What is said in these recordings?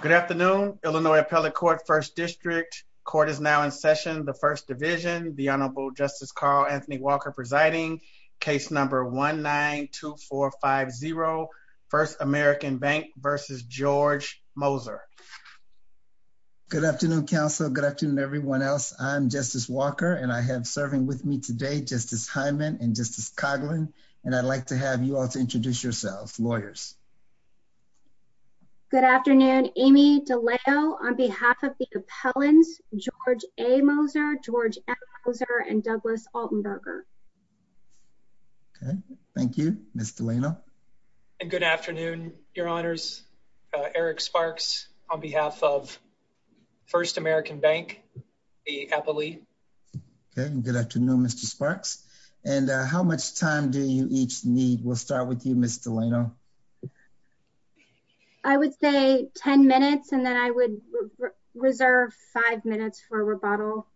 Good afternoon, Illinois Appellate Court First District. Court is now in session, the First Division, the Honorable Justice Carl Anthony Walker presiding, case number 1-9-2-4-5-0, First American Bank versus George Moser. Good afternoon, counsel. Good afternoon, everyone else. I'm Justice Walker, and I have serving with me today Justice Hyman and Justice Coughlin, and I'd like to have you all to introduce yourselves, lawyers. Good afternoon, Amy DeLeo, on behalf of the appellants, George A. Moser, George M. Moser, and Douglas Altenberger. Okay, thank you, Ms. Delano. And good afternoon, your honors, Eric Sparks, on behalf of First American Bank, the Appellee. Okay, good afternoon, Mr. Sparks. And how much time do you each need? We'll start with you, Ms. Delano. I would say 10 minutes, and then I would reserve five minutes for rebuttal.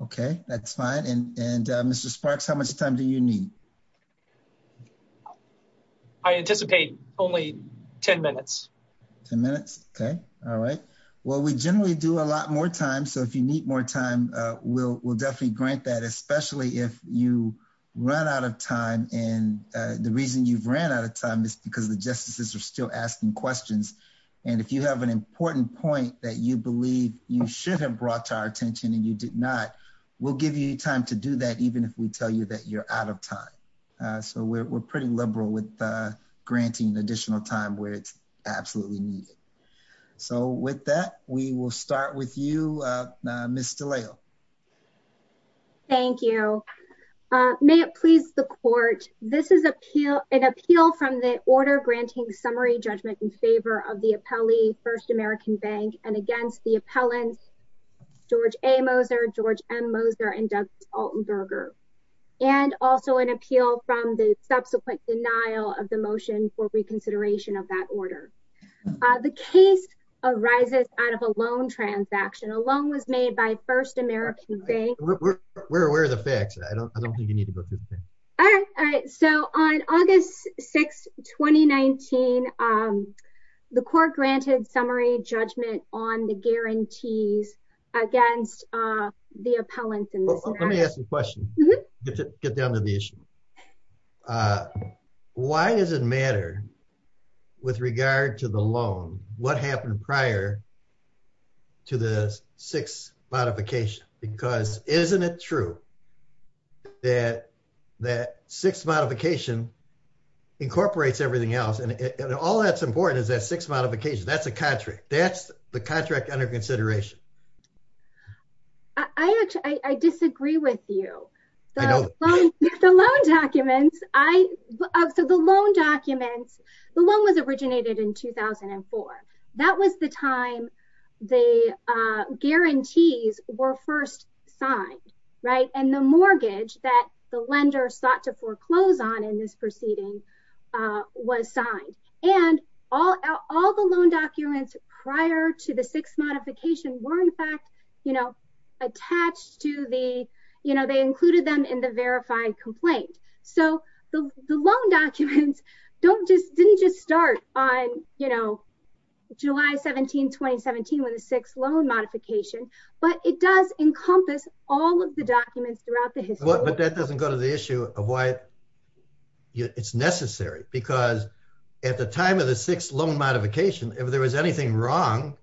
Okay, that's fine. And Mr. Sparks, how much time do you need? I anticipate only 10 minutes. 10 minutes? Okay, all right. Well, we generally do a lot more time, so if you need more time, we'll definitely grant that, especially if you run out of time, and the reason you've ran out of time is because the justices are still asking questions. And if you have an important point that you believe you should have brought to our attention and you did not, we'll give you time to do that, even if we tell you that you're out of time. So we're pretty liberal with granting additional time where it's absolutely needed. So with that, we will start with you, Ms. Delano. Thank you. May it please the court, this is an appeal from the order granting summary judgment in favor of the appellee, First American Bank, and against the appellants, George A. Moser, George M. Moser, and Douglas Altenberger, and also an appeal from the subsequent denial of the motion for reconsideration of that order. The case arises out of a loan transaction. A First American Bank. Where are the facts? I don't think you need to go through the facts. All right. So on August 6, 2019, the court granted summary judgment on the guarantees against the appellants. Let me ask you a question to get down to the issue. Uh, why does it matter with regard to the loan? What happened prior to the six modification? Because isn't it true that that six modification incorporates everything else? And all that's important is that six modification. That's a contract. That's the contract under consideration. I actually, I disagree with you. The loan documents, I, so the loan documents, the loan was originated in 2004. That was the time the guarantees were first signed, right? And the mortgage that the lender sought to foreclose on in this proceeding was signed. And all, all the loan documents prior to the six modification were in fact, you know, attached to the, you know, they included them in the verified complaint. So the loan documents don't just, didn't just start on, you know, July 17, 2017, when the six loan modification, but it does encompass all of the documents throughout the issue of why it's necessary because at the time of the six loan modification, if there was anything wrong,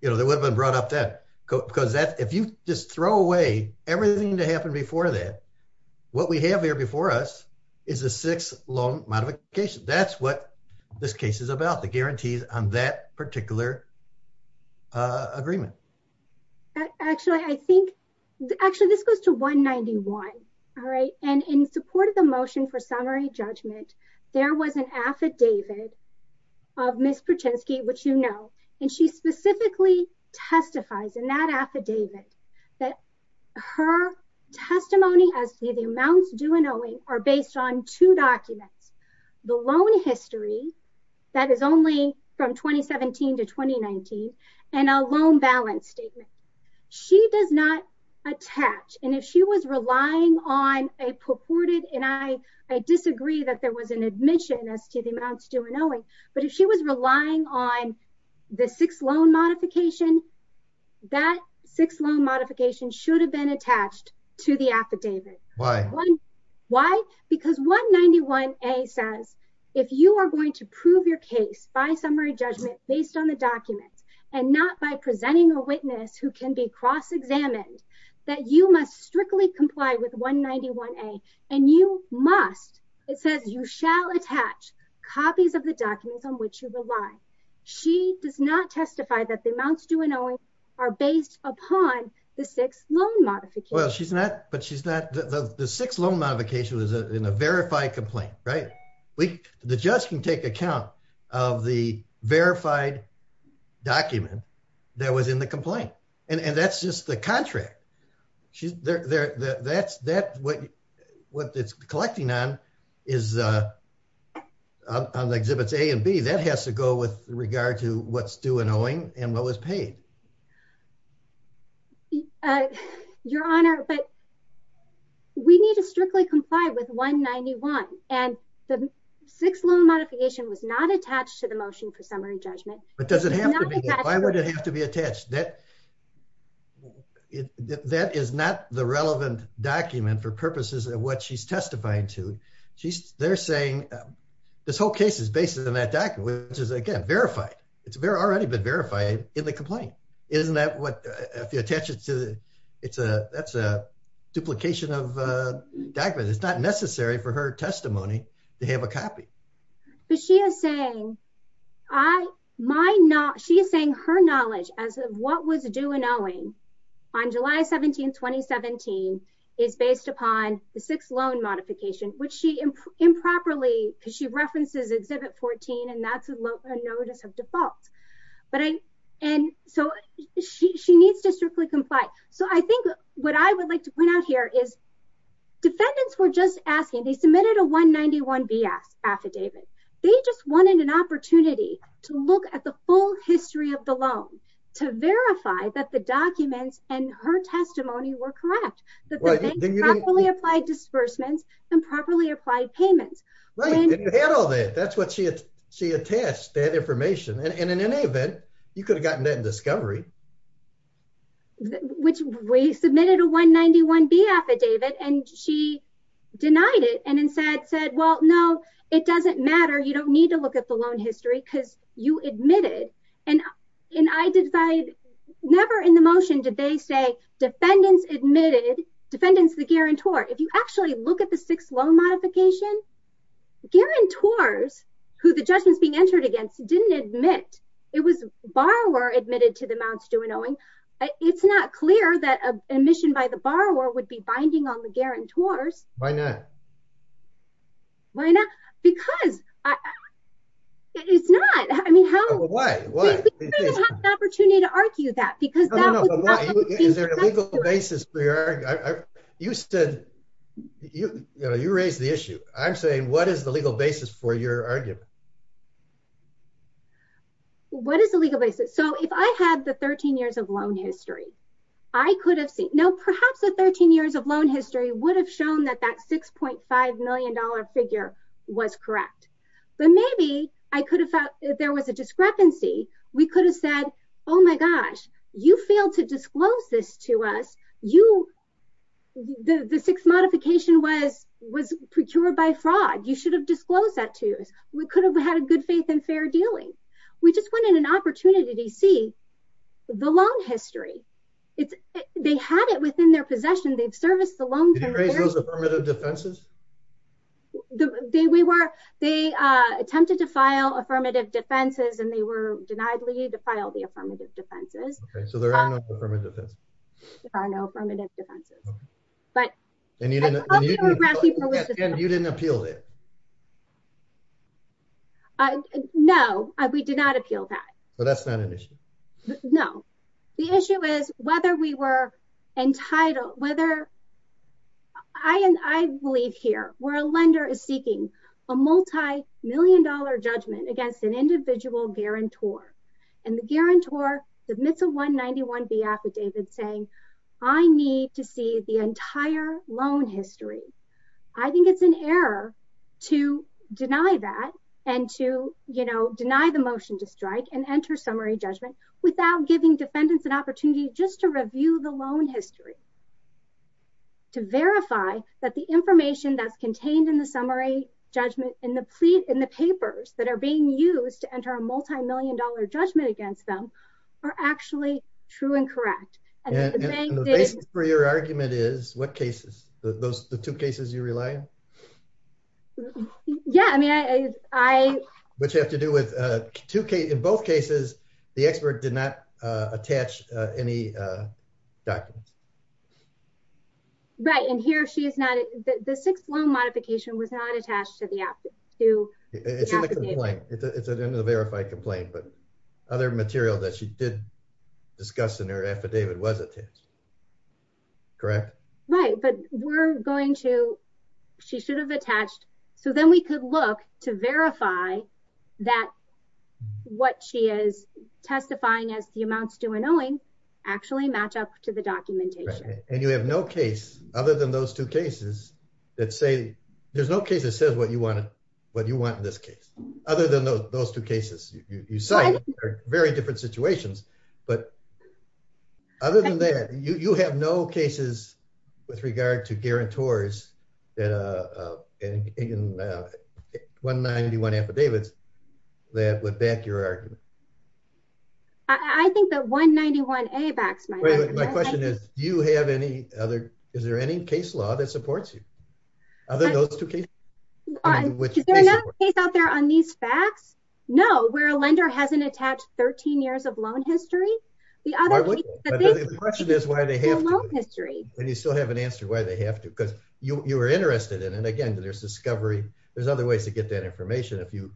you know, there would have been brought up that because that if you just throw away everything to happen before that, what we have here before us is a six loan modification. That's what this case is about. The guarantees on that particular agreement. Actually, I think actually this goes to 191. All right. And in support of the motion for summary judgment, there was an affidavit of Ms. Perchinsky, which, you know, and she specifically testifies in that affidavit that her testimony as to the amounts due and owing are based on two documents, the loan history that is only from 2017 to 2019 and a loan balance statement. She does not attach. And if she was relying on a purported, and I disagree that there was an admission as to the amounts due and owing, but if she was relying on the six loan modification, that six loan modification should have been attached to the affidavit. Why? Why? Because 191 A says, if you are going to prove your case by summary judgment based on the documents and not by presenting a witness who can be cross examined that you must strictly comply with 191 A and you must, it says you shall attach copies of the documents on which you rely. She does not testify that the amounts due and owing are based upon the six loan modification. Well, she's not, but she's not, the six loan modification was in a verified complaint, right? We, the judge can take account of the verified document that was in the complaint. And that's just the contract. That's what it's collecting on is on the exhibits A and B that has to go with regard to what's due and owing and what was paid. Your honor, but we need to strictly comply with 191 and the six loan modification was not attached to the motion for summary judgment. But does it have to be, why would it have to be attached? That is not the relevant document for purposes of what she's testifying to. They're saying this whole case is based on that document, which is again verified. It's already been verified in the complaint. Isn't that what, if you attach it to the, it's a, that's a duplication of a document. It's not necessary for her testimony to have a copy. But she is saying, I, my not, she is saying her knowledge as of what was due and owing on July 17th, 2017 is based upon the six loan modification, which she improperly, because she references exhibit 14 and that's a notice of default. But I, and so she, she needs to strictly comply. So I think what I would like to point out here is defendants were just asking, they submitted a one 91 BS affidavit. They just wanted an opportunity to look at the full history of the loan, to verify that the documents and her testimony were correct, that they properly applied disbursements and properly applied payments. That's what she had. She attached that information. And in any event, you could have gotten that in discovery, which we submitted a one 91 B affidavit and she denied it. And instead said, well, no, it doesn't matter. You don't need to look at the loan history because you admitted. And, and I decided never in the motion did they say defendants admitted defendants, the guarantor, if you actually look at the six loan modification, the guarantors who the judgment is being entered against didn't admit it was borrower admitted to the Mount Stewart owing. It's not clear that a mission by the borrower would be binding on the guarantors. Why not? Why not? Because it's not, I mean, how, why, why opportunity to argue that because is there a legal basis for your, you said you, you know, you raised the issue. I'm saying, what is the legal basis for your argument? What is the legal basis? So if I had the 13 years of loan history, I could have seen, no, perhaps the 13 years of loan history would have shown that that $6.5 million figure was correct, but maybe I could have thought there was a discrepancy. We could have said, oh my gosh, you failed to disclose this to us. You, the, the sixth modification was, was procured by fraud. You should have disclosed that to us. We could have had a good faith and fair dealing. We just wanted an opportunity to see the loan history. It's, they had it within their possession. They've serviced the loan. They were, they attempted to file affirmative defenses and were denied leave to file the affirmative defenses. There are no affirmative defenses, but you didn't appeal it. No, we did not appeal that. So that's not an issue. No, the issue is whether we were entitled, whether I, and I believe here where a lender is seeking a multimillion dollar judgment against an individual guarantor and the guarantor submits a 191B affidavit saying I need to see the entire loan history. I think it's an error to deny that and to, you know, deny the motion to strike and enter summary judgment without giving defendants an opportunity just to review the loan history, to verify that the information that's contained in the summary judgment in the plea, in the papers that are being used to enter a multimillion dollar judgment against them are actually true and correct. And the basis for your argument is what cases those, the two cases you rely on? Yeah, I mean, I, I, which have to do with two cases, in both cases, the expert did not attach any documents. Right. And here, she is not, the sixth loan modification was not attached to the, to the affidavit. It's in the complaint. It's in the verified complaint, but other material that she did discuss in her affidavit was attached, correct? Right. But we're going to, she should have attached. So then we could look to verify that what she is testifying as the amounts to an owing actually match up to the documentation. And you have no case other than those two cases that say, there's no case that says what you want to, what you want in this case, other than those two cases you cite are very different situations. But other than that, you, you have no cases with regard to guarantors that 191 affidavits that would back your argument. I think that 191A backs my argument. My question is, do you have any other, is there any case law that supports you? Other than those two cases? Is there another case out there on these facts? No, where a lender hasn't attached 13 years of loan history. The other case that they, the question is why they have to, and you still haven't answered why they have to, because you were interested in, and again, there's discovery. There's other ways to get that information if you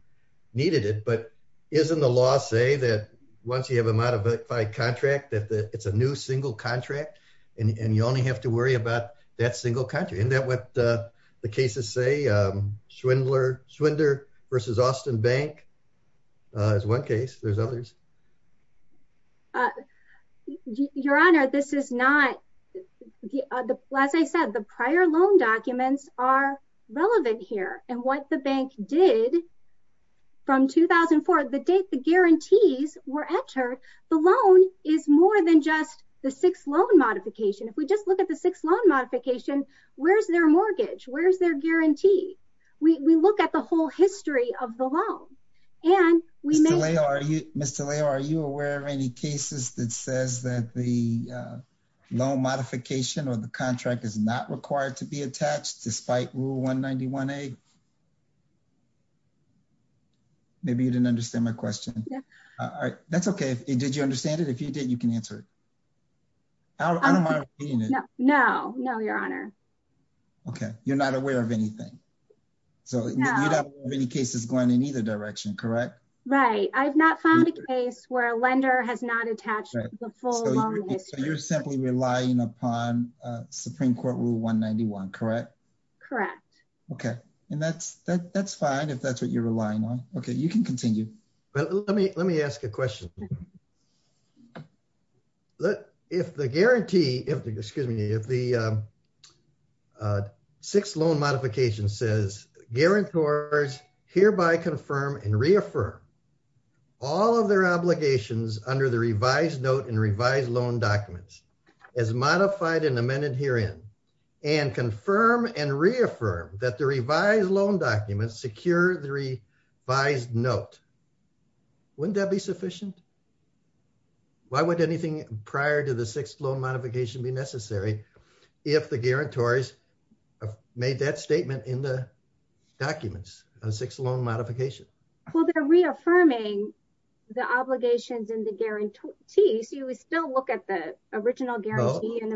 needed it, but isn't the law say that once you have a modified contract, that it's a new single contract and you only have to worry about that single country. Isn't that what the cases say? Schwindler versus Austin bank is one case. There's others. Uh, your honor, this is not the, as I said, the prior loan documents are relevant here and what the bank did from 2004, the date, the guarantees were entered. The loan is more than just the six loan modification. If we just look at the six loan modification, where's their mortgage, where's their guarantee? We look at the whole history of the loan and we may- Mr. Leo, are you aware of any cases that says that the loan modification or the contract is not required to be attached despite rule 191A? Maybe you didn't understand my question. That's okay. Did you understand it? If you did, you can answer it. No, no, your honor. Okay. You're not aware of anything. So you don't have any cases going in either direction, correct? Right. I've not found a case where a lender has not attached the full loan history. You're simply relying upon a Supreme court rule 191, correct? Correct. Okay. And that's, that's fine. If that's what you're relying on. Okay. You can continue. Well, let me, let me ask a question. If the guarantee, if the, excuse me, if the, um, uh, six loan modification says guarantors hereby confirm and reaffirm all of their obligations under the revised note and revised loan documents as modified and amended herein and confirm and reaffirm that the revised loan documents secure the revised note, wouldn't that be sufficient? Why would anything prior to six loan modification be necessary? If the guarantors have made that statement in the documents, a six loan modification. Well, they're reaffirming the obligations in the guarantee. So you would still look at the original guarantee and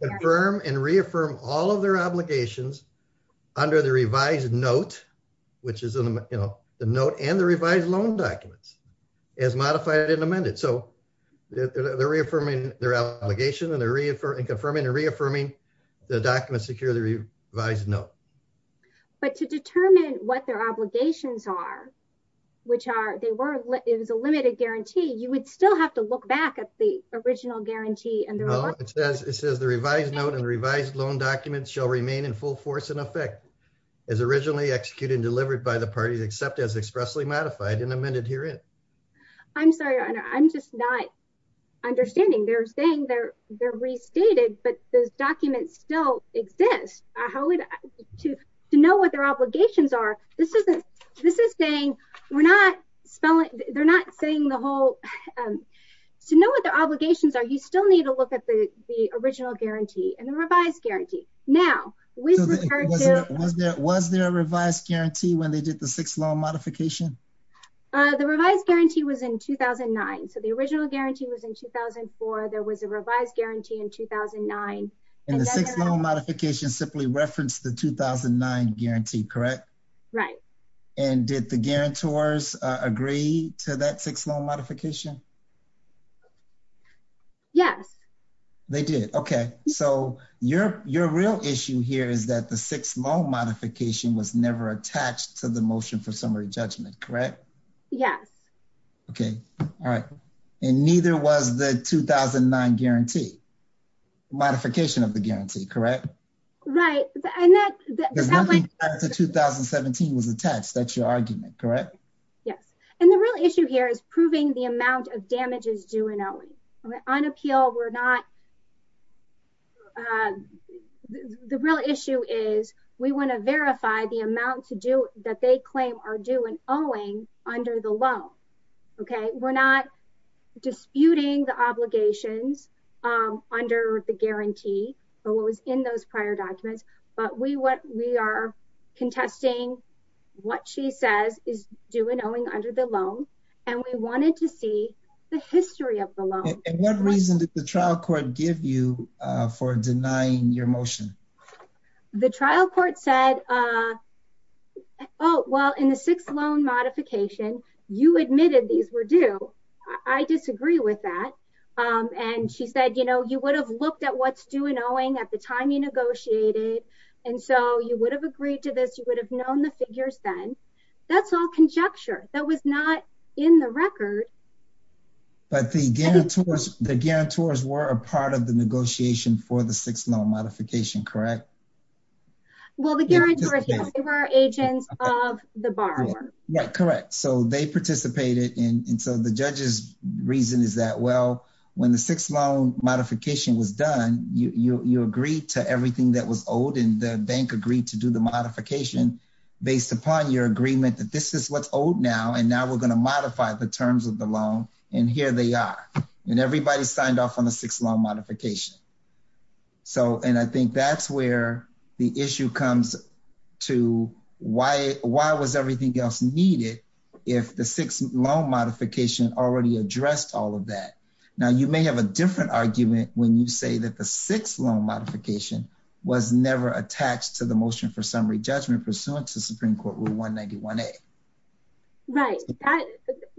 confirm and reaffirm all of their obligations under the revised note, which is in the, you know, the note and the revised loan documents as modified and amended. So they're reaffirming their allegation and they're reaffirming and confirming and reaffirming the documents secure the revised note, but to determine what their obligations are, which are, they were, it was a limited guarantee. You would still have to look back at the original guarantee. And it says, it says the revised note and the revised loan documents shall remain in full force and effect as originally executed and delivered by the parties, except as expressly modified and amended herein. I'm sorry. I'm just not understanding. They're saying they're, they're restated, but those documents still exist. How would to, to know what their obligations are? This isn't, this is saying, we're not spelling. They're not saying the whole, um, to know what their obligations are. You still need to look at the, the original guarantee and the revised guarantee. Now, was there a revised guarantee when they did the six loan modification? Uh, the revised guarantee was in 2009. So the original guarantee was in 2004. There was a revised guarantee in 2009. And the six loan modification simply referenced the 2009 guarantee, correct? Right. And did the guarantors agree to that six loan modification? Yes, they did. Okay. So your, your real issue here is that the six loan modification was never attached to the motion for summary judgment, correct? Yes. Okay. All right. And neither was the 2009 guarantee modification of the guarantee, correct? Right. And that, the 2017 was attached. That's your argument, correct? Yes. And the real issue here is proving the amount of damages due and owing on appeal. We're not, um, the real issue is we want to verify the amount to do that they claim are due and owing under the loan. Okay. We're not disputing the obligations, um, under the guarantee or what was in those prior documents, but we, what we are contesting, what she says is due and owing under the loan. And we wanted to see the history of the loan. And what reason did the trial court give you, uh, for denying your motion? The trial court said, uh, Oh, well in the six loan modification, you admitted these were due. I disagree with that. Um, and she said, you know, you would have looked at what's due and owing at the time you negotiated. And so you would have agreed to this. You would have known the figures then that's all conjecture that was not in the record. But the guarantors, the guarantors were a part of the negotiation for the six loan modification, correct? Well, the guarantors were agents of the borrower. Yeah, correct. So they participated in, and so the judge's reason is that, well, when the six loan modification was done, you, you, you agreed to everything that was owed and the bank agreed to do the modification based upon your agreement that this is what's owed now. And now we're going to modify the terms of the loan and here they are. And everybody signed off on the six loan modification. So, and I think that's where the issue comes to why, why was everything needed? If the six loan modification already addressed all of that. Now you may have a different argument when you say that the six loan modification was never attached to the motion for summary judgment pursuant to Supreme Court rule one 91. Right.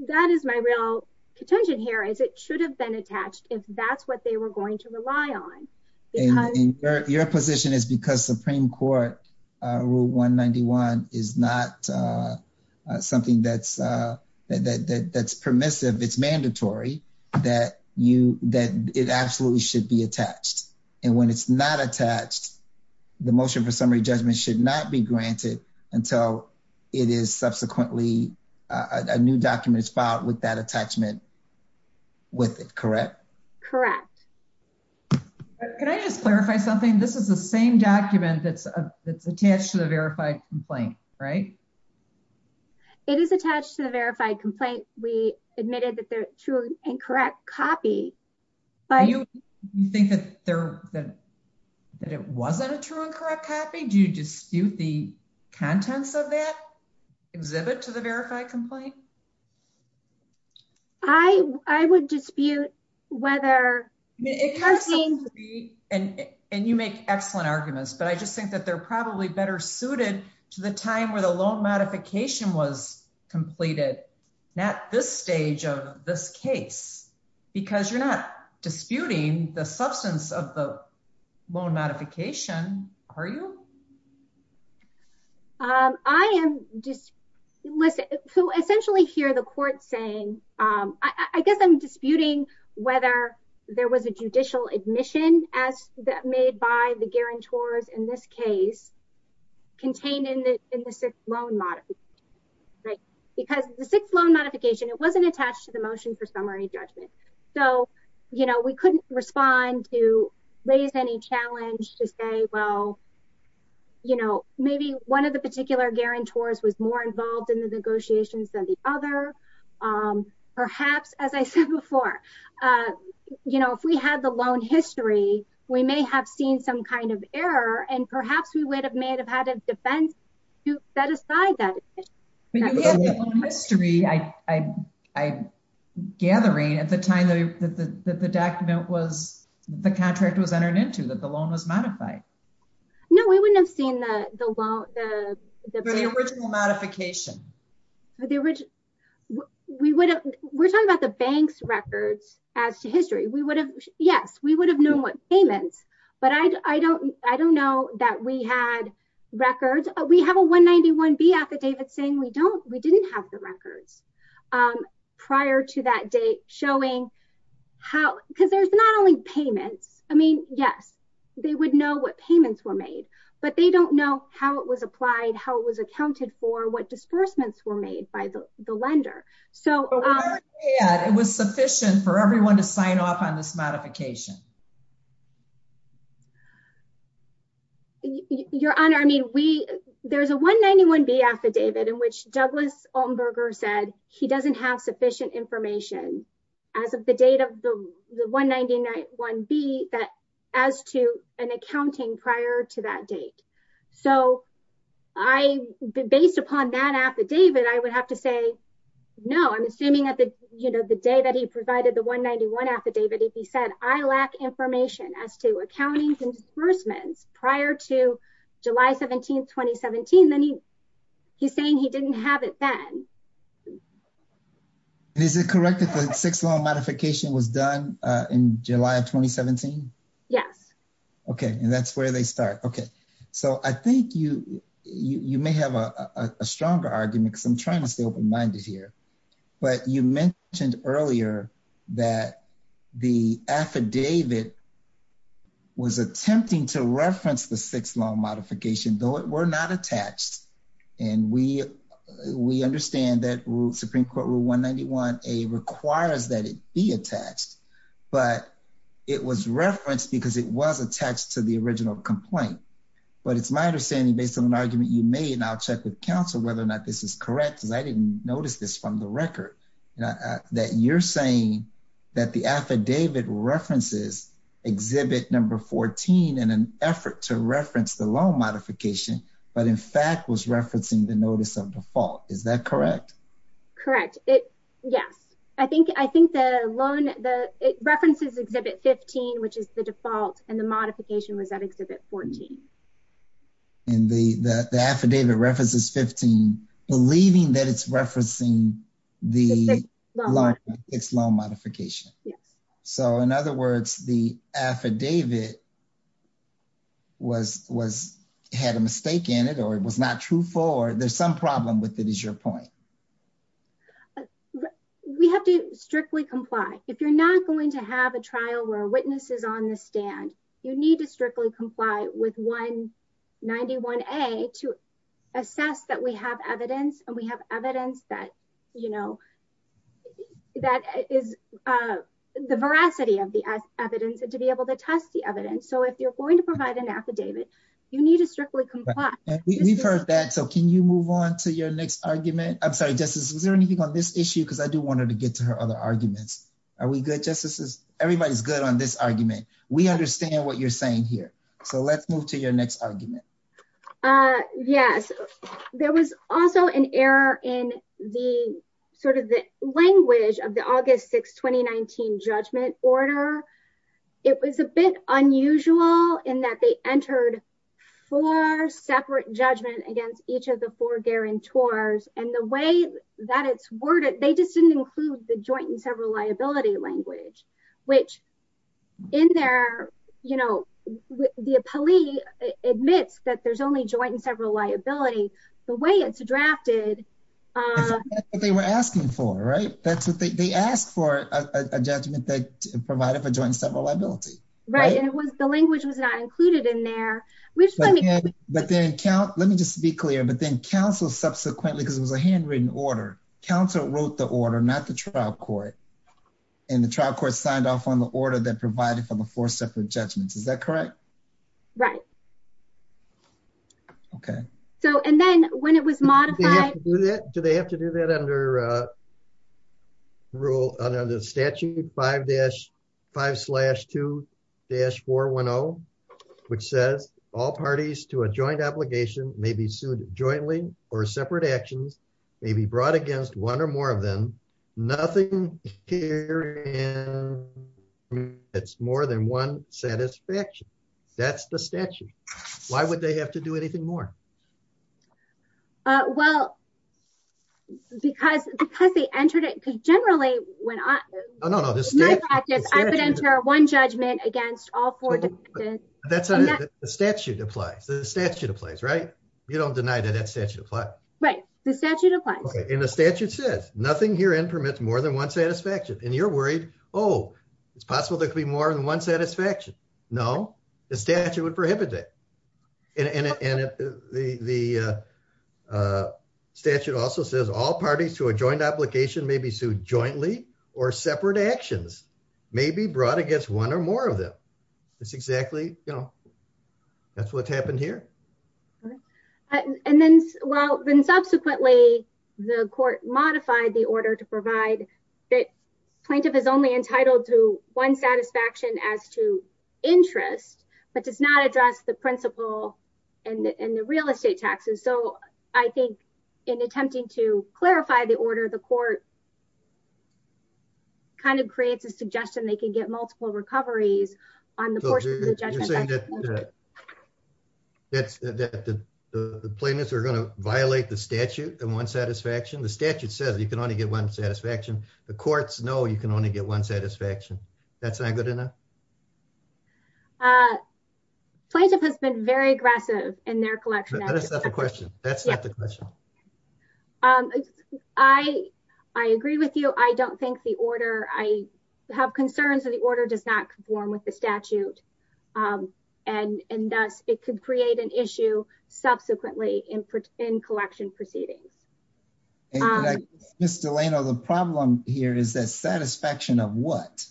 That is my real contention here is it should have been attached if that's what they were going to rely on. Your position is because Supreme Court rule one 91 is not something that's that's permissive. It's mandatory that you, that it absolutely should be attached. And when it's not attached, the motion for summary judgment should not be granted until it is subsequently a new document is filed with that that's attached to the verified complaint, right? It is attached to the verified complaint. We admitted that they're true and correct copy, but you think that there, that, that it wasn't a true and correct copy. Do you dispute the contents of that exhibit to the verified complaint? I, I would dispute whether, and you make excellent arguments, but I just think that they're probably better suited to the time where the loan modification was completed. Not this stage of this case, because you're not disputing the substance of the loan modification. Are you? I am just listen to essentially hear the court saying I guess I'm disputing whether there was a judicial admission as that made by the guarantors in this case contained in the, in the sixth loan model, right? Because the sixth loan modification, it wasn't attached to the motion for summary judgment. So, you know, we couldn't respond to raise any challenge to say, well, you know, maybe one of the particular guarantors was more involved in the negotiations than the other. Perhaps, as I said before, you know, if we had the loan history, we may have seen some kind of error and perhaps we would have made, have had a defense to set aside that. History, I, I, I gathering at the time that the, that the, that the document was, the contract was entered into that the loan was modified. No, we wouldn't have seen the, the law, the, the, the original modification. The original, we would, we're talking about the bank's records as to history. We would have, yes, we would have known what payments, but I, I don't, I don't know that we had records. We have a one 91 B affidavit saying we don't, we didn't have the records prior to that date showing how, because there's not only payments. I mean, yes, they would know what payments were made, but they don't know how it was applied, how it was accounted for what disbursements were made by the lender. So it was sufficient for everyone to sign off on this modification. Your honor. I mean, we, there's a one 91 B affidavit in which Douglas Altenberger said he doesn't have sufficient information as of the date of the one 99 one B that as to an accounting prior to that date. So I based upon that affidavit, I would have to say, no, I'm assuming that the, you know, the day that he provided the one 91 affidavit, if he said, I lack information as to accountings and disbursements prior to July 17th, 2017, then he. Saying he didn't have it then. Is it correct that the six long modification was done in July of 2017? Yes. Okay. And that's where they start. Okay. So I think you, you may have a stronger argument because I'm trying to stay open-minded here, but you mentioned earlier that the affidavit was attempting to reference the six long modification, though it were not attached. And we, we understand that Supreme court rule one 91, a requires that it be attached, but it was referenced because it was attached to the original complaint. But it's my understanding based on an argument you made, and I'll check with counsel, whether or not this is correct, because I didn't notice this from the record that you're saying that the affidavit references exhibit number 14 in an effort to reference the modification, but in fact was referencing the notice of default. Is that correct? Correct. Yes. I think, I think the loan, the references exhibit 15, which is the default and the modification was at exhibit 14. And the, the, the affidavit references 15, believing that it's referencing the long modification. So in other words, the affidavit was, was, had a mistake in it, or it was not true for there's some problem with it is your point. We have to strictly comply. If you're not going to have a trial where witnesses on the stand, you need to strictly comply with one 91 a to assess that we have evidence and we have evidence that, you know, that is the veracity of the evidence and to be able to test the evidence. So if you're going to provide an affidavit, you need to strictly comply. We've heard that. So can you move on to your next argument? I'm sorry, justice. Is there anything on this issue? Cause I do want her to get to her other arguments. Are we good justices? Everybody's good on this argument. We understand what you're saying here. So let's move to your next argument. Yes. There was also an error in the, sort of the language of the August 6th, 2019 judgment order. It was a bit unusual in that they entered four separate judgment against each of the four guarantors and the way that it's worded, they just didn't include the joint and several liability language, which in there, you know, the police admits that there's only joint and several liability the way it's drafted. That's what they were asking for, right? That's what they, they asked for a judgment that provided for joint and several liability. Right. And it was, the language was not included in there. But then count, let me just be clear, but then counsel subsequently, cause it was a handwritten order. Counsel wrote the order, not the trial court and the trial court signed off on the order that provided for the four separate judgments. Is that correct? Right. Okay. So, and then when it was modified, do they have to do that under rule under the statute five dash five slash two dash four one O which says all parties to a joint obligation may be sued jointly or separate actions may be brought against one or more of them. Nothing here. And it's more than one satisfaction. That's the statute. Why would they have to do anything more? Well, because, because they entered it. Cause generally when I, no, no, no. I would enter one judgment against all four. That's the statute applies to the statute of place, right? You don't deny that that right. The statute applies and the statute says nothing here and permits more than one satisfaction. And you're worried, Oh, it's possible. There could be more than one satisfaction. No, the statute would prohibit that. And the statute also says all parties to a joint application may be sued jointly or separate actions may be brought against one or more of them. That's exactly, you know, that's what's happened here. And then, well, then subsequently the court modified the order to provide that plaintiff is only entitled to one satisfaction as to interest, but does not address the principle and the real estate taxes. So I think in attempting to clarify the order, the court kind of creates a suggestion. They can get multiple recoveries on the portion. That's the plaintiffs are going to violate the statute and one satisfaction. The statute says you can only get one satisfaction. The courts know you can only get one satisfaction. That's not good enough. Plaintiff has been very aggressive in their collection. That's not the question. That's not the question. I agree with you. I don't think the order, I have concerns that the order does not conform with the statute and thus it could create an issue subsequently in collection proceedings. Ms. Delano, the problem here is that satisfaction of what?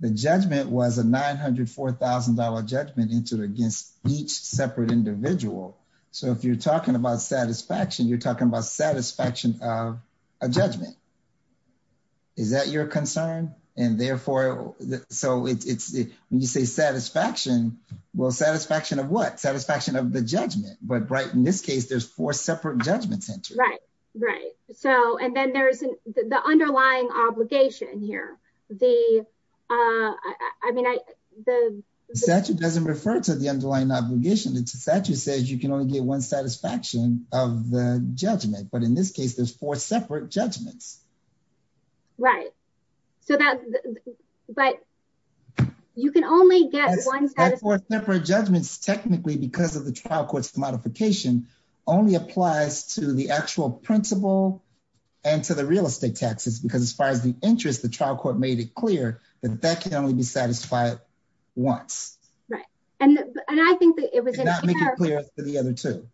The judgment was a $904,000 judgment against each separate individual. So if you're talking about satisfaction, you're talking about satisfaction of a judgment. Is that your concern? And therefore, so when you say satisfaction, well, satisfaction of what? Satisfaction of the judgment. But right in this case, there's four separate judgments entered. Right, right. And then there's the underlying obligation here. The, I mean, the statute doesn't refer to the underlying obligation. The statute says you can only get one satisfaction of the judgment. But in this case, there's four separate judgments. Right. So that, but you can only get one separate judgments technically, because of the trial courts modification only applies to the actual principle and to the real estate taxes. Because as far as the interest, the trial court made it clear that that can only be satisfied once. Right. And I think that it was not making clear for the other two.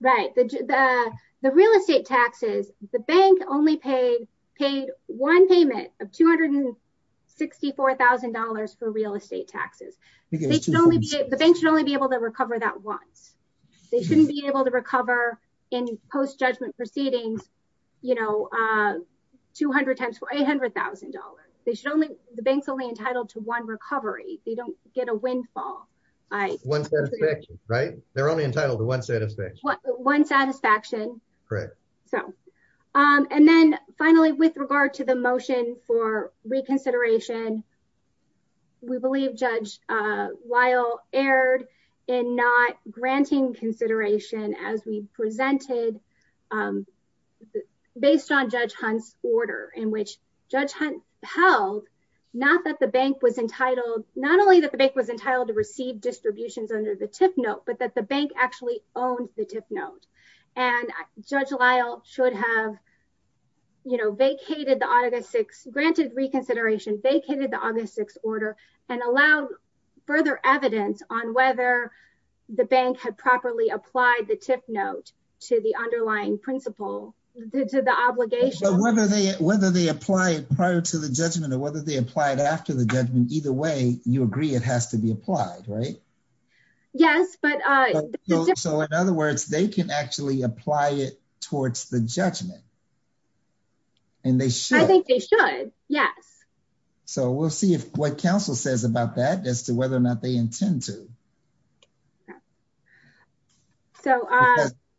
Right. The real estate taxes, the bank only paid one payment of $264,000 for real estate taxes. The bank should only be able to recover that once. They shouldn't be able to recover in post-judgment proceedings, you know, 200 times for $800,000. They should only, the bank's only entitled to one recovery. They don't get a windfall. One satisfaction. Right. They're only entitled to one satisfaction. One satisfaction. Correct. So, and then finally, with regard to the motion for reconsideration, we believe Judge Lyle erred in not granting consideration as we presented based on Judge Hunt's order in which Judge Hunt held not that the bank was entitled, not only that the bank was entitled to receive distributions under the tip note, but that the bank actually owned the tip note. And Judge Lyle should have, you know, indicated the August 6th order and allowed further evidence on whether the bank had properly applied the tip note to the underlying principle, to the obligation. Whether they, whether they apply it prior to the judgment or whether they apply it after the judgment, either way, you agree it has to be applied, right? Yes, but. So in other words, they can actually apply it We'll see if what council says about that as to whether or not they intend to. So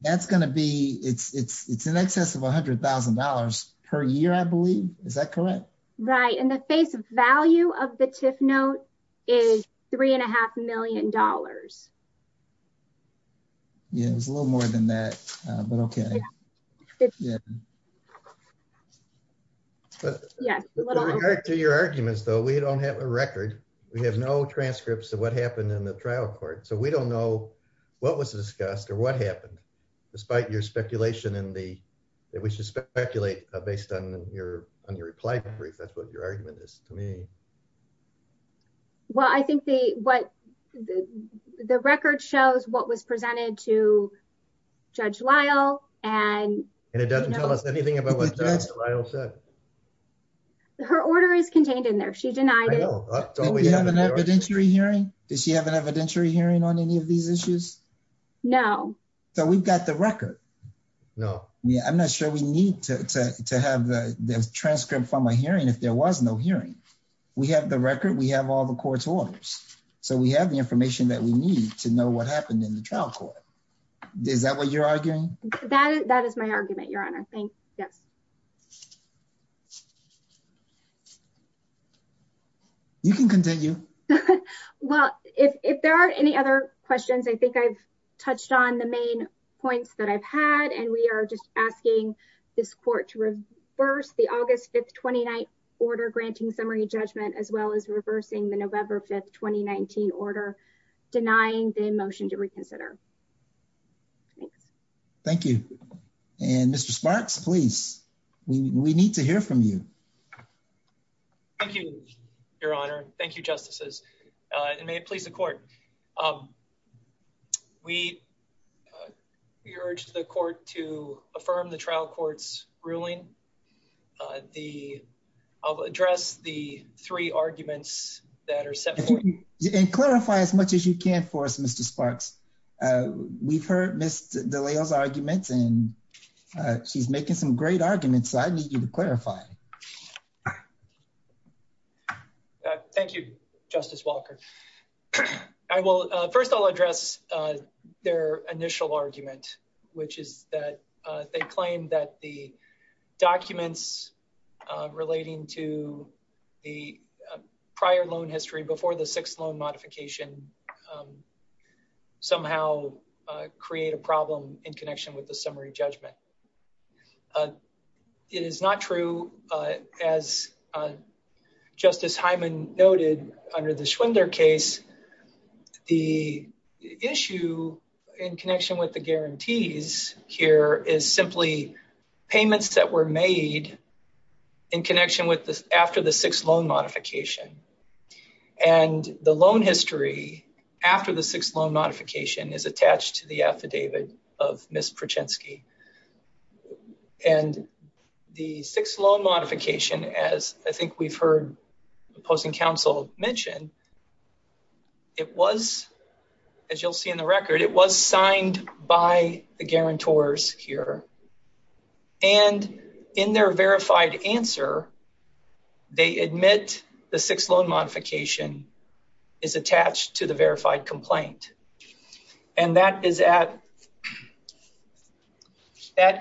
that's going to be, it's in excess of $100,000 per year, I believe. Is that correct? Right. And the face value of the tip note is three and a half million dollars. Yeah, it was a little more than that, but okay. Yeah. Yeah. To your arguments, though, we don't have a record. We have no transcripts of what happened in the trial court. So we don't know what was discussed or what happened, despite your speculation in the, that we should speculate based on your, on your reply brief. That's what your argument is to me. Well, I think the, what the, the record shows what was presented to Judge Lyle and. And it doesn't tell us anything about what Judge Lyle said. Her order is contained in there. She denied it. I know. Do you have an evidentiary hearing? Does she have an evidentiary hearing on any of these issues? No. So we've got the record. No. Yeah. I'm not sure we need to, to, to have the transcript from a hearing if there was no hearing. We have the record. We have all the court's orders. So we have the information that we need to know what happened in the trial court. Is that what you're arguing? That is, that is my argument, Your Honor. Thanks. Yes. You can continue. Well, if, if there are any other questions, I think I've touched on the main points that I've and we are just asking this court to reverse the August 5th, 29th order, granting summary judgment, as well as reversing the November 5th, 2019 order denying the motion to reconsider. Thanks. Thank you. And Mr. Sparks, please, we need to hear from you. Thank you, Your Honor. Thank you, Justices. And may it please the court. Um, we, uh, we urge the court to affirm the trial court's ruling. Uh, the, I'll address the three arguments that are set for you. And clarify as much as you can for us, Mr. Sparks. Uh, we've heard Ms. DeLeo's arguments and, uh, she's making some great arguments. So I need you to clarify. Thank you, Justice Walker. Well, uh, first I'll address, uh, their initial argument, which is that, uh, they claim that the documents, uh, relating to the prior loan history before the sixth loan modification, somehow, uh, create a problem in connection with the summary judgment. Uh, it is not true, uh, as, uh, Justice Hyman noted under the Schwender case, the issue in connection with the guarantees here is simply payments that were made in connection with the, after the sixth loan modification. And the loan history after the sixth loan modification is attached to the affidavit of Ms. Prochensky. And the sixth loan modification, as I think we've heard opposing counsel mentioned, it was, as you'll see in the record, it was signed by the guarantors here and in their verified answer, they admit the sixth loan modification is attached to the affidavit. That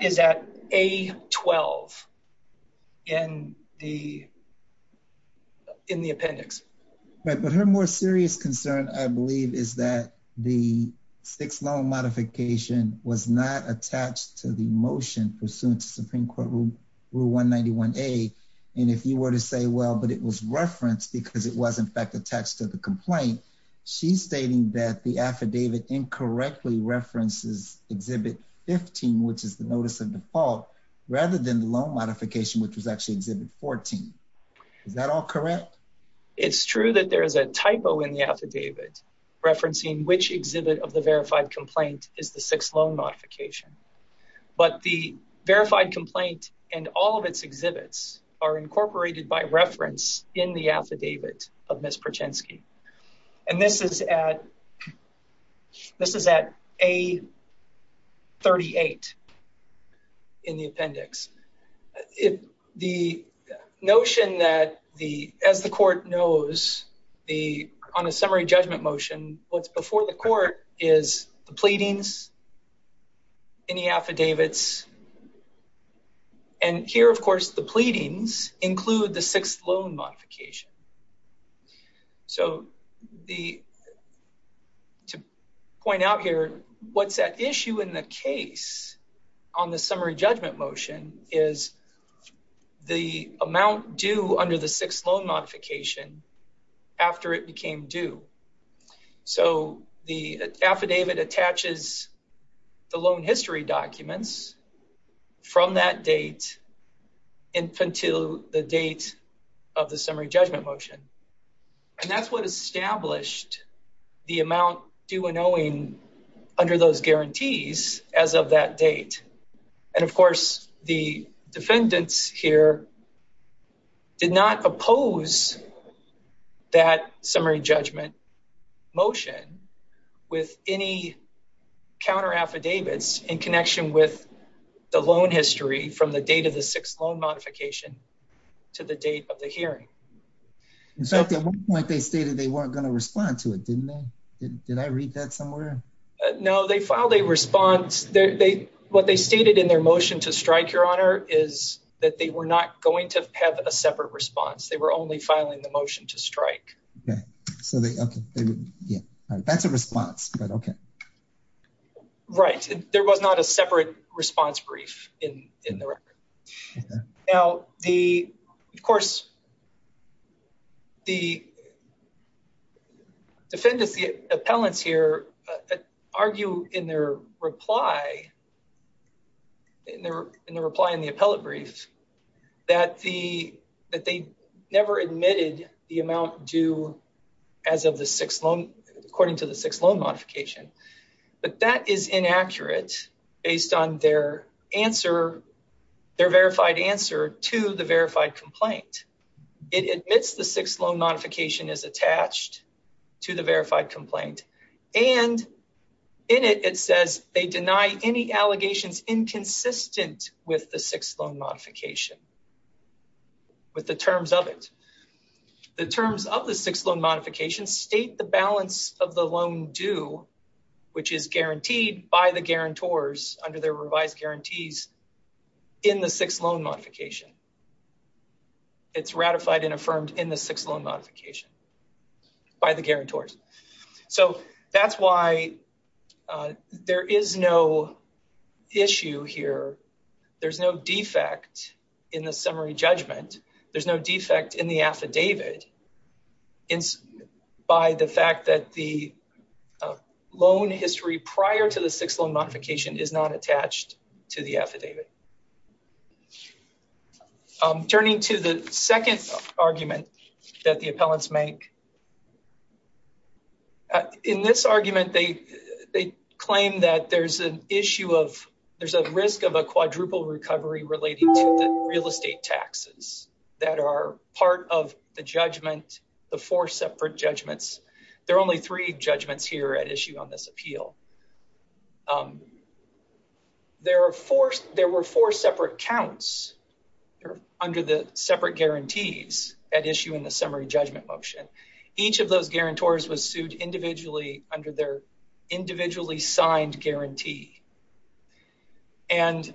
is at A-12 in the, in the appendix. Right. But her more serious concern, I believe, is that the sixth loan modification was not attached to the motion pursuant to Supreme Court Rule 191A. And if you were to say, well, but it was referenced because it was in the affidavit. She's stating that the affidavit incorrectly references Exhibit 15, which is the notice of default rather than the loan modification, which was actually Exhibit 14. Is that all correct? It's true that there is a typo in the affidavit referencing which exhibit of the verified complaint is the sixth loan modification, but the verified complaint and all of its exhibits are incorporated by reference in the affidavit of Ms. Prochensky. And this is at, this is at A-38 in the appendix. If the notion that the, as the court knows the, on a summary judgment motion, what's before the court is the pleadings in the affidavits. And here, of course, the pleadings include the sixth loan modification. So the, to point out here, what's at issue in the case on the summary judgment motion is the amount due under the sixth loan modification after it became due. So the affidavit attaches the loan history documents from that date until the date of the summary judgment motion. And that's what established the amount due and owing under those guarantees as of that date. And of course, the defendants here did not oppose that summary judgment motion with any counter affidavits in connection with the loan history from the date of the sixth loan modification to the date of the hearing. In fact, at one point they stated they weren't going to respond to it, didn't they? Did I read that somewhere? No, they filed a response. They, what they stated in their motion to strike your honor is that they were not going to have a separate response. They were only filing the motion to strike. Okay. So they, okay. Yeah. That's a response, but okay. Right. There was not a separate response brief in the record. Now the, of course, the defendants, the appellants here argue in their reply, in their reply in the appellate brief that the, that they never admitted the amount due as of the sixth loan, according to the sixth loan modification. But that is inaccurate based on their answer, their verified answer to the verified complaint. It admits the sixth loan modification is attached to the verified complaint and in it, it says they deny any allegations inconsistent with the sixth loan modification with the terms of it. The terms of the sixth loan modification state the balance of the loan due, which is guaranteed by the guarantors under their revised guarantees in the sixth loan modification. It's ratified and affirmed in the sixth loan modification by the guarantors. So that's why there is no issue here. There's no defect in the summary judgment. There's no defect in the affidavit by the fact that the loan history prior to the sixth loan modification is not attached to the affidavit. Turning to the second argument that the appellants make, in this argument, they claim that there's an issue of, there's a risk of a quadruple recovery relating to the real estate taxes that are part of the judgment, the four separate judgments. There are only three judgments here at issue on this appeal. There were four separate counts under the separate guarantees at issue in the summary judgment motion. Each of those guarantors was sued individually under their individually signed guarantee. And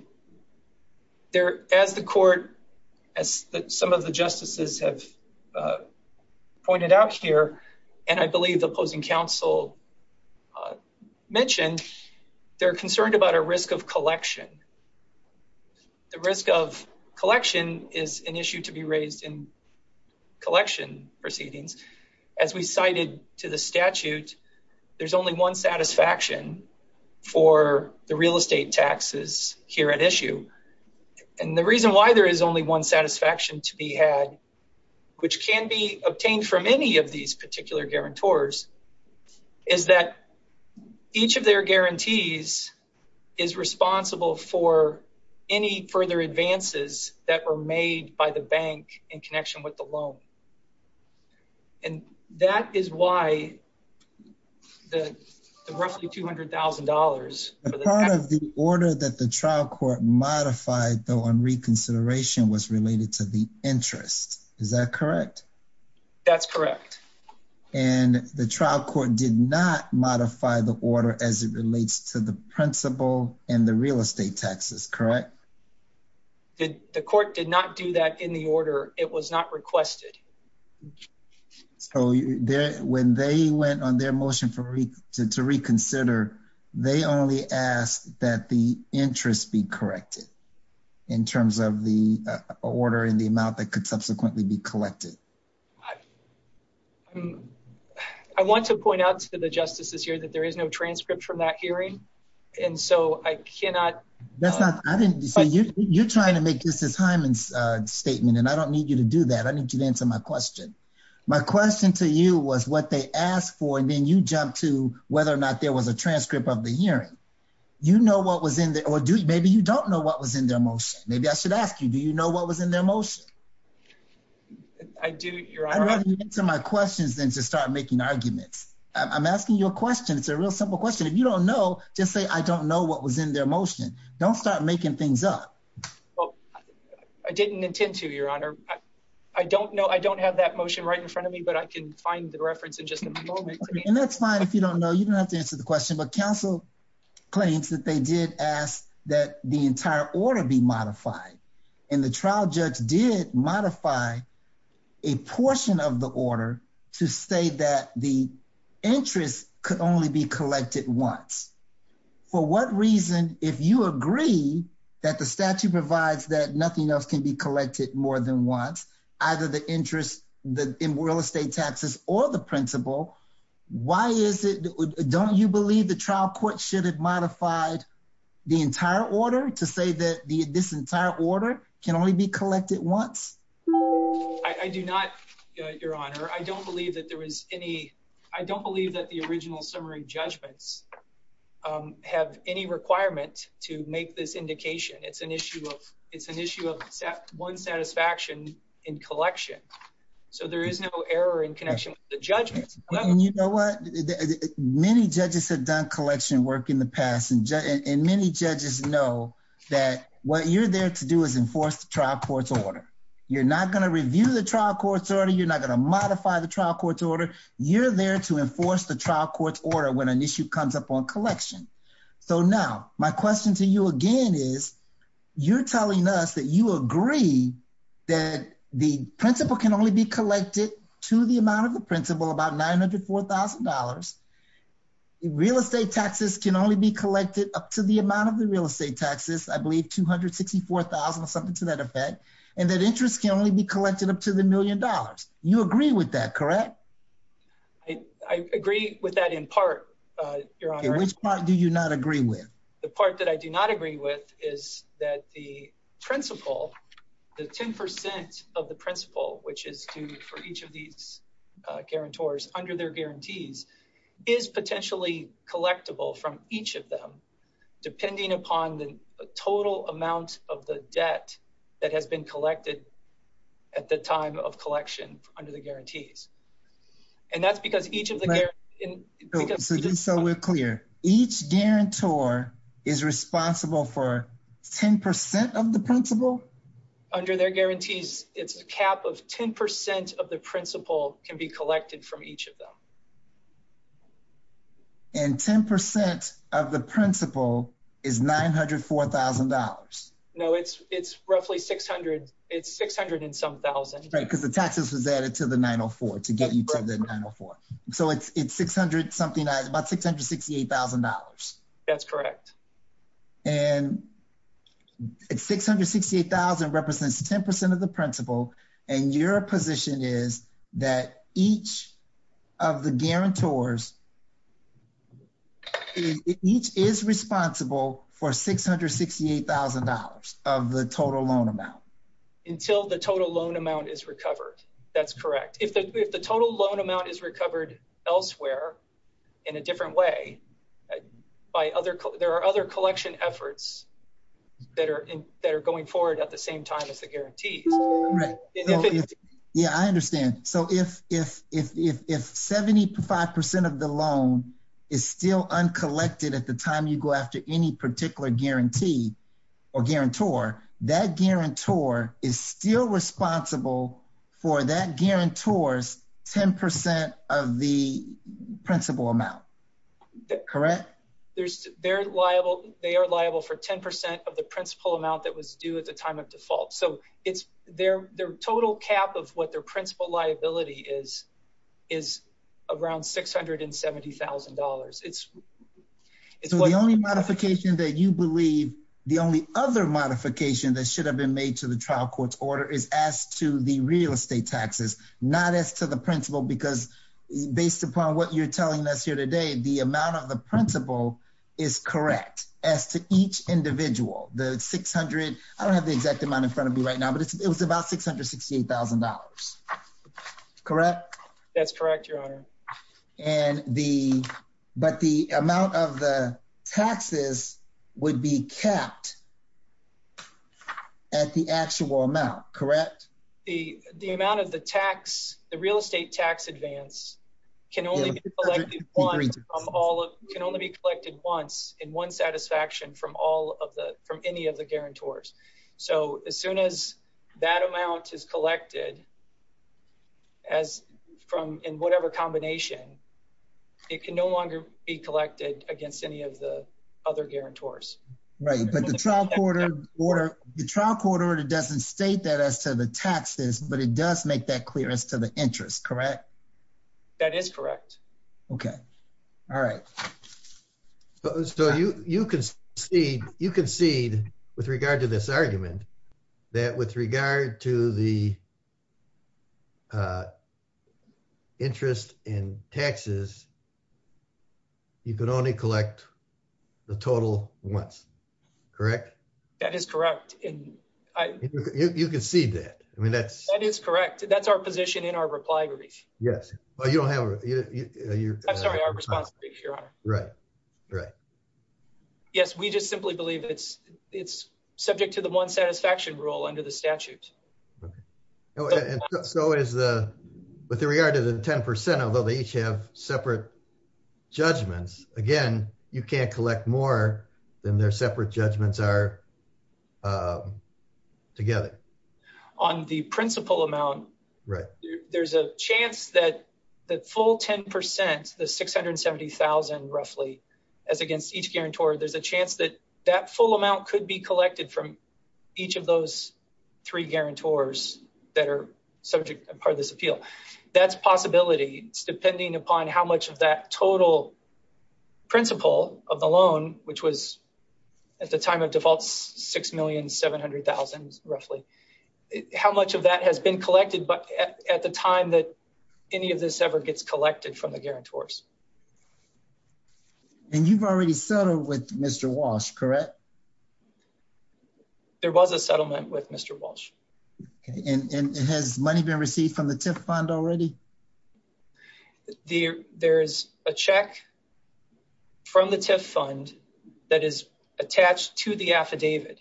there, as the court, as some of the justices have pointed out here, and I believe the opposing counsel mentioned, they're concerned about a risk of collection. The risk of collection is an issue to be raised in collection proceedings. As we cited to the for the real estate taxes here at issue. And the reason why there is only one satisfaction to be had, which can be obtained from any of these particular guarantors, is that each of their guarantees is responsible for any further advances that were made by the bank in connection with the part of the order that the trial court modified though on reconsideration was related to the interest. Is that correct? That's correct. And the trial court did not modify the order as it relates to the principal and the real estate taxes, correct? The court did not do that in the order. It was not requested. Okay. So when they went on their motion for me to reconsider, they only asked that the interest be corrected in terms of the order in the amount that could subsequently be collected. I want to point out to the justices here that there is no transcript from that hearing. And so I cannot, that's not, I didn't see you. You're trying to make this as Hyman's statement, and I don't need you to do that. I need you to answer my question. My question to you was what they asked for, and then you jumped to whether or not there was a transcript of the hearing. You know what was in there, or maybe you don't know what was in their motion. Maybe I should ask you, do you know what was in their motion? I do, Your Honor. I'd rather you answer my questions than to start making arguments. I'm asking you a question. It's a real simple question. If you don't know, just say, I don't know what was in their motion. Don't start making things up. Well, I didn't intend to, Your Honor. I don't know. I don't have that motion right in front of me, but I can find the reference in just a moment. And that's fine if you don't know. You don't have to answer the question. But counsel claims that they did ask that the entire order be modified. And the trial judge did modify a portion of the order to say that the interest could only be collected once. For what reason, if you agree that the statute provides that nothing else can be collected more than once, either the interest in real estate taxes or the principal, why is it, don't you believe the trial court should have modified the entire order to say that this entire order can only be collected once? I do not, Your Honor. I don't believe that there was any, I don't believe that the original summary judgments have any requirement to make this indication. It's an issue of, it's an issue of one satisfaction in collection. So there is no error in connection with the judgment. You know what? Many judges have done collection work in the past, and many judges know that what you're there to do is enforce the trial court's order. You're not going to review the trial court's order. You're not going to modify the trial court's order. You're there to enforce the trial court's order when an issue comes up on collection. So now my question to you again is, you're telling us that you agree that the principal can only be collected to the amount of the principal, about $904,000. Real estate taxes can only be collected up to the amount of the real estate taxes, I believe $264,000 or something to that effect. And that interest can only be collected up to the million dollars. You agree with that, correct? I agree with that in part, Your Honor. Which part do you not agree with? The part that I do not agree with is that the principal, the 10% of the principal, which is due for each of these guarantors under their guarantees, is potentially collectible from each of them, depending upon the total amount of the debt that has been collected at the time of collection under the guarantees. And that's because each of the guarantors... So just so we're clear, each guarantor is responsible for 10% of the principal? Under their guarantees, it's a cap of 10% of the principal can be collected from each of them. And 10% of the principal is $904,000? No, it's roughly $600,000. It's $600,000 and some thousand. Because the taxes was added to the $904,000 to get you to the $904,000. So it's about $668,000. That's correct. And $668,000 represents 10% of the principal. And your position is that each of the guarantors... Each is responsible for $668,000 of the total loan amount. Until the total loan amount is recovered. That's correct. If the total loan amount is recovered elsewhere in a different way, there are other collection efforts that are going forward at the same time as the guarantees. Yeah, I understand. So if 75% of the loan is still uncollected at the time you go after any particular guarantee or guarantor, that guarantor is still responsible for that guarantor's 10% of the principal amount. Correct? They are liable for 10% of the principal amount that was due at the time of default. So it's their total cap of what their principal liability is around $670,000. So the only modification that you believe... The only other modification that should have been made to the trial court's order is as to the real estate taxes, not as to the principal, because based upon what you're telling us here today, the amount of the principal is correct as to each individual. The 600... I don't have the exact amount in front of me right now, but it was about $668,000. Correct? That's correct, Your Honor. And the... But the amount of the taxes would be capped at the actual amount. Correct? The amount of the tax, the real estate tax advance can only be collected once in one satisfaction from any of the guarantors. So as soon as that amount is collected from in whatever combination, it can no longer be collected against any of the other guarantors. Right. But the trial court order doesn't state that as to the taxes, but it does make that clear as to the interest. Correct? That is correct. Okay. All right. So you concede with regard to this argument that with regard to the interest in taxes, you could only collect the total once. Correct? That is correct. And I... You concede that. I mean, that's... That is correct. That's our position in our reply brief. Yes. But you don't have... I'm sorry, our response brief, Your Honor. Right. Right. Yes. We just simply believe it's subject to the one satisfaction rule under the statute. Okay. And so is the... With regard to the 10%, although they each have separate judgments, again, you can't collect more than their separate judgments are together. On the principal amount, there's a chance that the full 10%, the 670,000 roughly, as against each guarantor, there's a chance that that full amount could be collected from each of those three guarantors that are subject to part of this appeal. That's possibility. It's depending upon how much of that total principal of the loan, which was at the time of default, 6,700,000 roughly, how much of that has been collected at the time that any of this ever gets collected from the guarantors. And you've already settled with Mr. Walsh, correct? There was a settlement with Mr. Walsh. Okay. And has money been received from the TIF fund already? There's a check from the TIF fund that is attached to the affidavit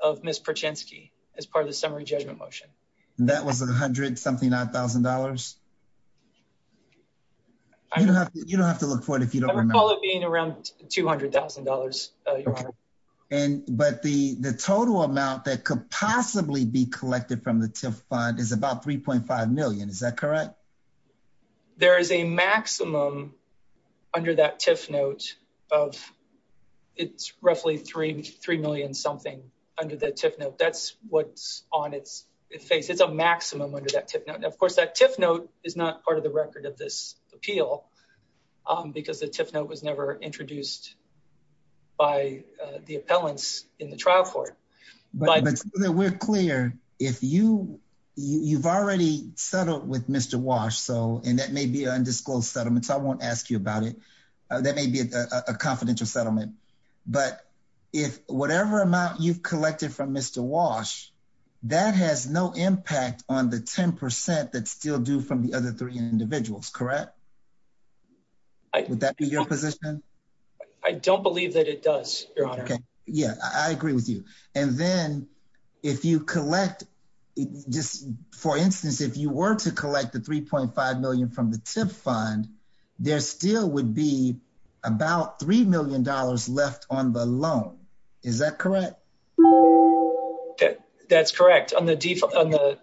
of Ms. Prochensky as part of the summary judgment motion. That was 100 something odd thousand dollars? You don't have to look for it if you don't remember. I recall it being around $200,000, Your Honor. But the total amount that could possibly be collected from the TIF fund is about 3.5 million. Is that correct? There is a maximum under that TIF note of, it's roughly 3 million something under the TIF note. That's what's on its face. It's a maximum under that TIF note. Of course, that TIF note is not the record of this appeal because the TIF note was never introduced by the appellants in the trial court. But we're clear, you've already settled with Mr. Walsh, and that may be an undisclosed settlement, so I won't ask you about it. That may be a confidential settlement. But if whatever amount you've collected from Mr. Walsh, that has no impact on the 10% that's still from the other three individuals, correct? Would that be your position? I don't believe that it does, Your Honor. Yeah, I agree with you. And then if you collect, just for instance, if you were to collect the 3.5 million from the TIF fund, there still would be about $3 million left on the loan. Is that correct? Yeah, that's correct. The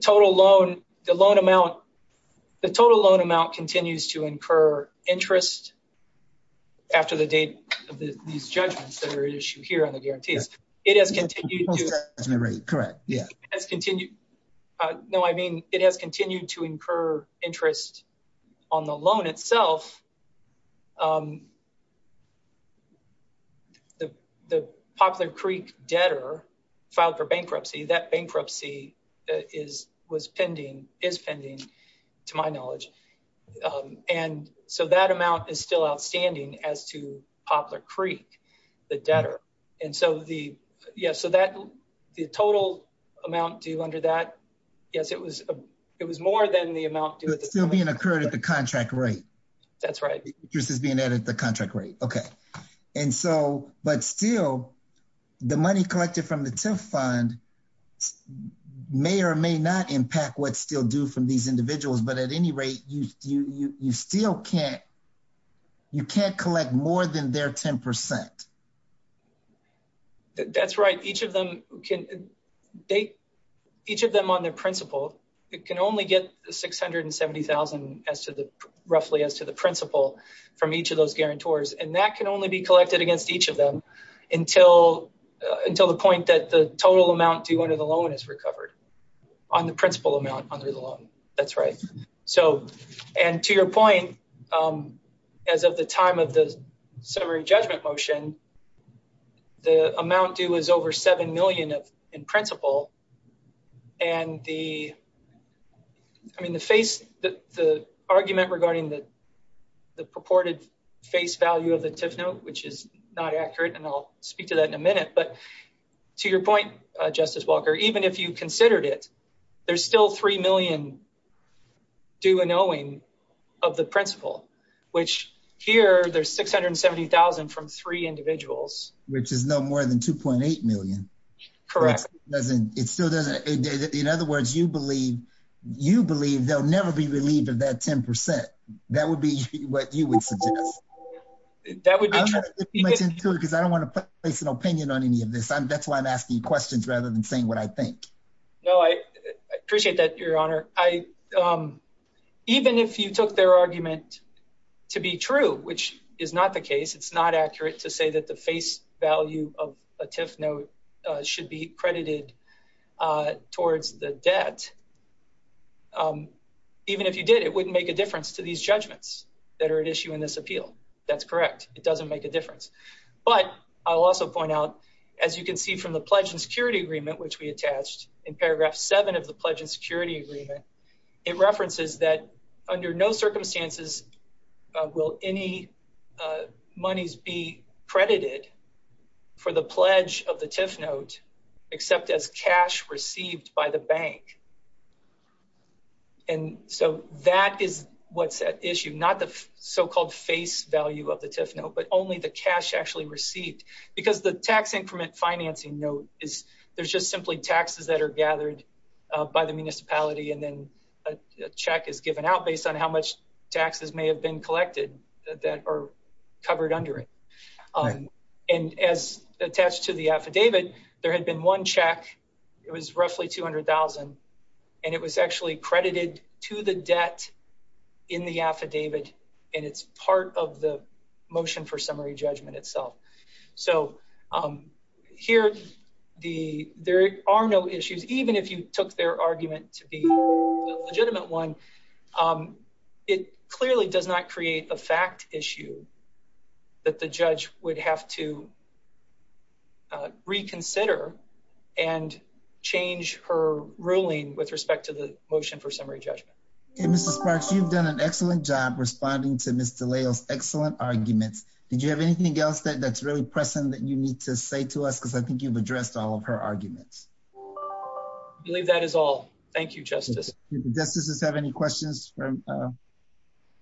total loan amount continues to incur interest after the date of these judgments that are at issue here on the guarantees. Correct, yeah. No, I mean, it has continued to incur interest on the loan itself. The Poplar Creek debtor filed for bankruptcy, that bankruptcy is pending, to my knowledge, and so that amount is still outstanding as to Poplar Creek, the debtor. And so, yeah, so the total amount due under that, yes, it was more than the amount due— It's still being incurred at the contract rate. That's right. Interest is being added at the contract rate, okay. And so, but still, the money collected from the TIF fund may or may not impact what's still due from these individuals, but at any rate, you still can't, you can't collect more than their 10%. That's right. Each of them can, they, each of them on their principal, it can only get $670,000 as to the, roughly as to the principal from each of those guarantors, and that can only be collected against each of them until the point that the total amount due under the loan is recovered on the principal amount under the loan. That's right. So, and to your point, as of the time of the summary judgment motion, the amount due is over $7 million in principal, and the, I mean, the face, the argument regarding the purported face value of the TIF note, which is not accurate, and I'll speak to that in a minute, but to your point, Justice Walker, even if you considered it, there's still $3 million due and owing of the principal, which here, there's $670,000 from three individuals. Which is no more than 2.8 million. Correct. It still doesn't, in other words, you believe, you believe they'll never be relieved of that 10%. That would be what you would suggest. That would be true. Because I don't want to place an opinion on any of this. I'm, that's why I'm asking you questions rather than saying what I think. No, I appreciate that, Your Honor. I, even if you took their argument to be true, which is not the case, it's not accurate to say that the face value of a TIF note should be credited towards the debt, even if you did, it wouldn't make a difference to these judgments that are at issue in this appeal. That's correct. It doesn't make a difference. But I'll also point out, as you can see from the pledge and security agreement, which we attached in paragraph seven of the pledge and security agreement, it references that under no circumstances will any monies be credited for the pledge of the TIF note, except as cash received by the bank. And so that is what's at issue, not the so-called face value of the TIF note, but only the cash actually received. Because the tax increment financing note is, there's just simply taxes that are gathered by the municipality, and then a check is given out based on how much taxes may have been collected that are covered under it. And as attached to the affidavit, there had been one check, it was roughly 200,000, and it was actually credited to the debt in the affidavit, and it's part of the motion for summary judgment itself. So here, there are no issues, even if you took their argument to be a legitimate one, it clearly does not create a fact issue that the judge would have to reconsider and change her ruling with respect to the motion for summary judgment. Okay, Mr. Sparks, you've done an excellent job responding to Ms. DeLeo's excellent arguments. Did you have anything else that's pressing that you need to say to us? Because I think you've addressed all of her arguments. I believe that is all. Thank you, Justice. Do the justices have any questions for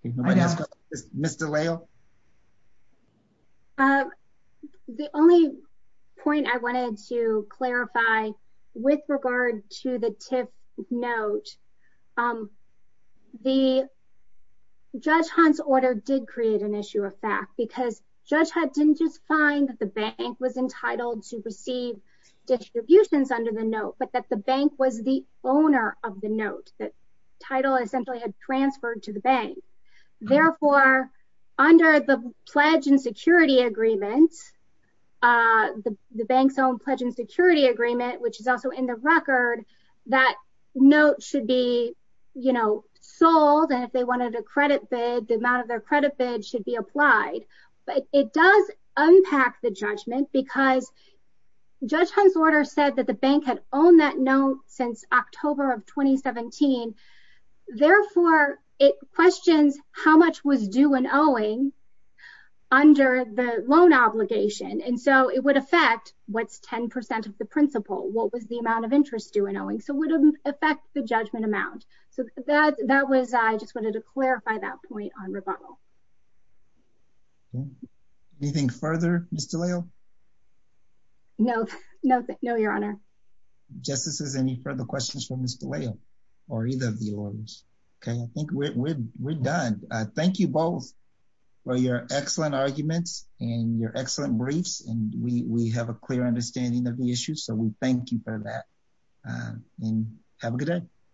Ms. DeLeo? The only point I wanted to clarify with regard to the TIF note, the Judge Hunt's order did create an issue of fact, because Judge Hunt didn't just find that the bank was entitled to receive distributions under the note, but that the bank was the owner of the note, that title essentially had transferred to the bank. Therefore, under the pledge and security agreement, the bank's own pledge and security agreement, which is also in the record, that note should be sold, and if they wanted a credit bid, the amount of their credit bid should be applied. But it does unpack the judgment because Judge Hunt's order said that the bank had owned that note since October of 2017. Therefore, it questions how much was due in owing under the loan obligation. And so it would affect what's 10% of the principal. What was the amount of interest due in owing? So it would affect the judgment amount. So that was, I just wanted to clarify that point on rebuttal. Anything further, Ms. DeLeo? No. No, Your Honor. Justices, any further questions for Ms. DeLeo or either of the lawyers? Okay, I think we're done. Thank you both for your excellent arguments and your excellent briefs. And we have a clear understanding of the issues, so we thank you for that. And have a good day.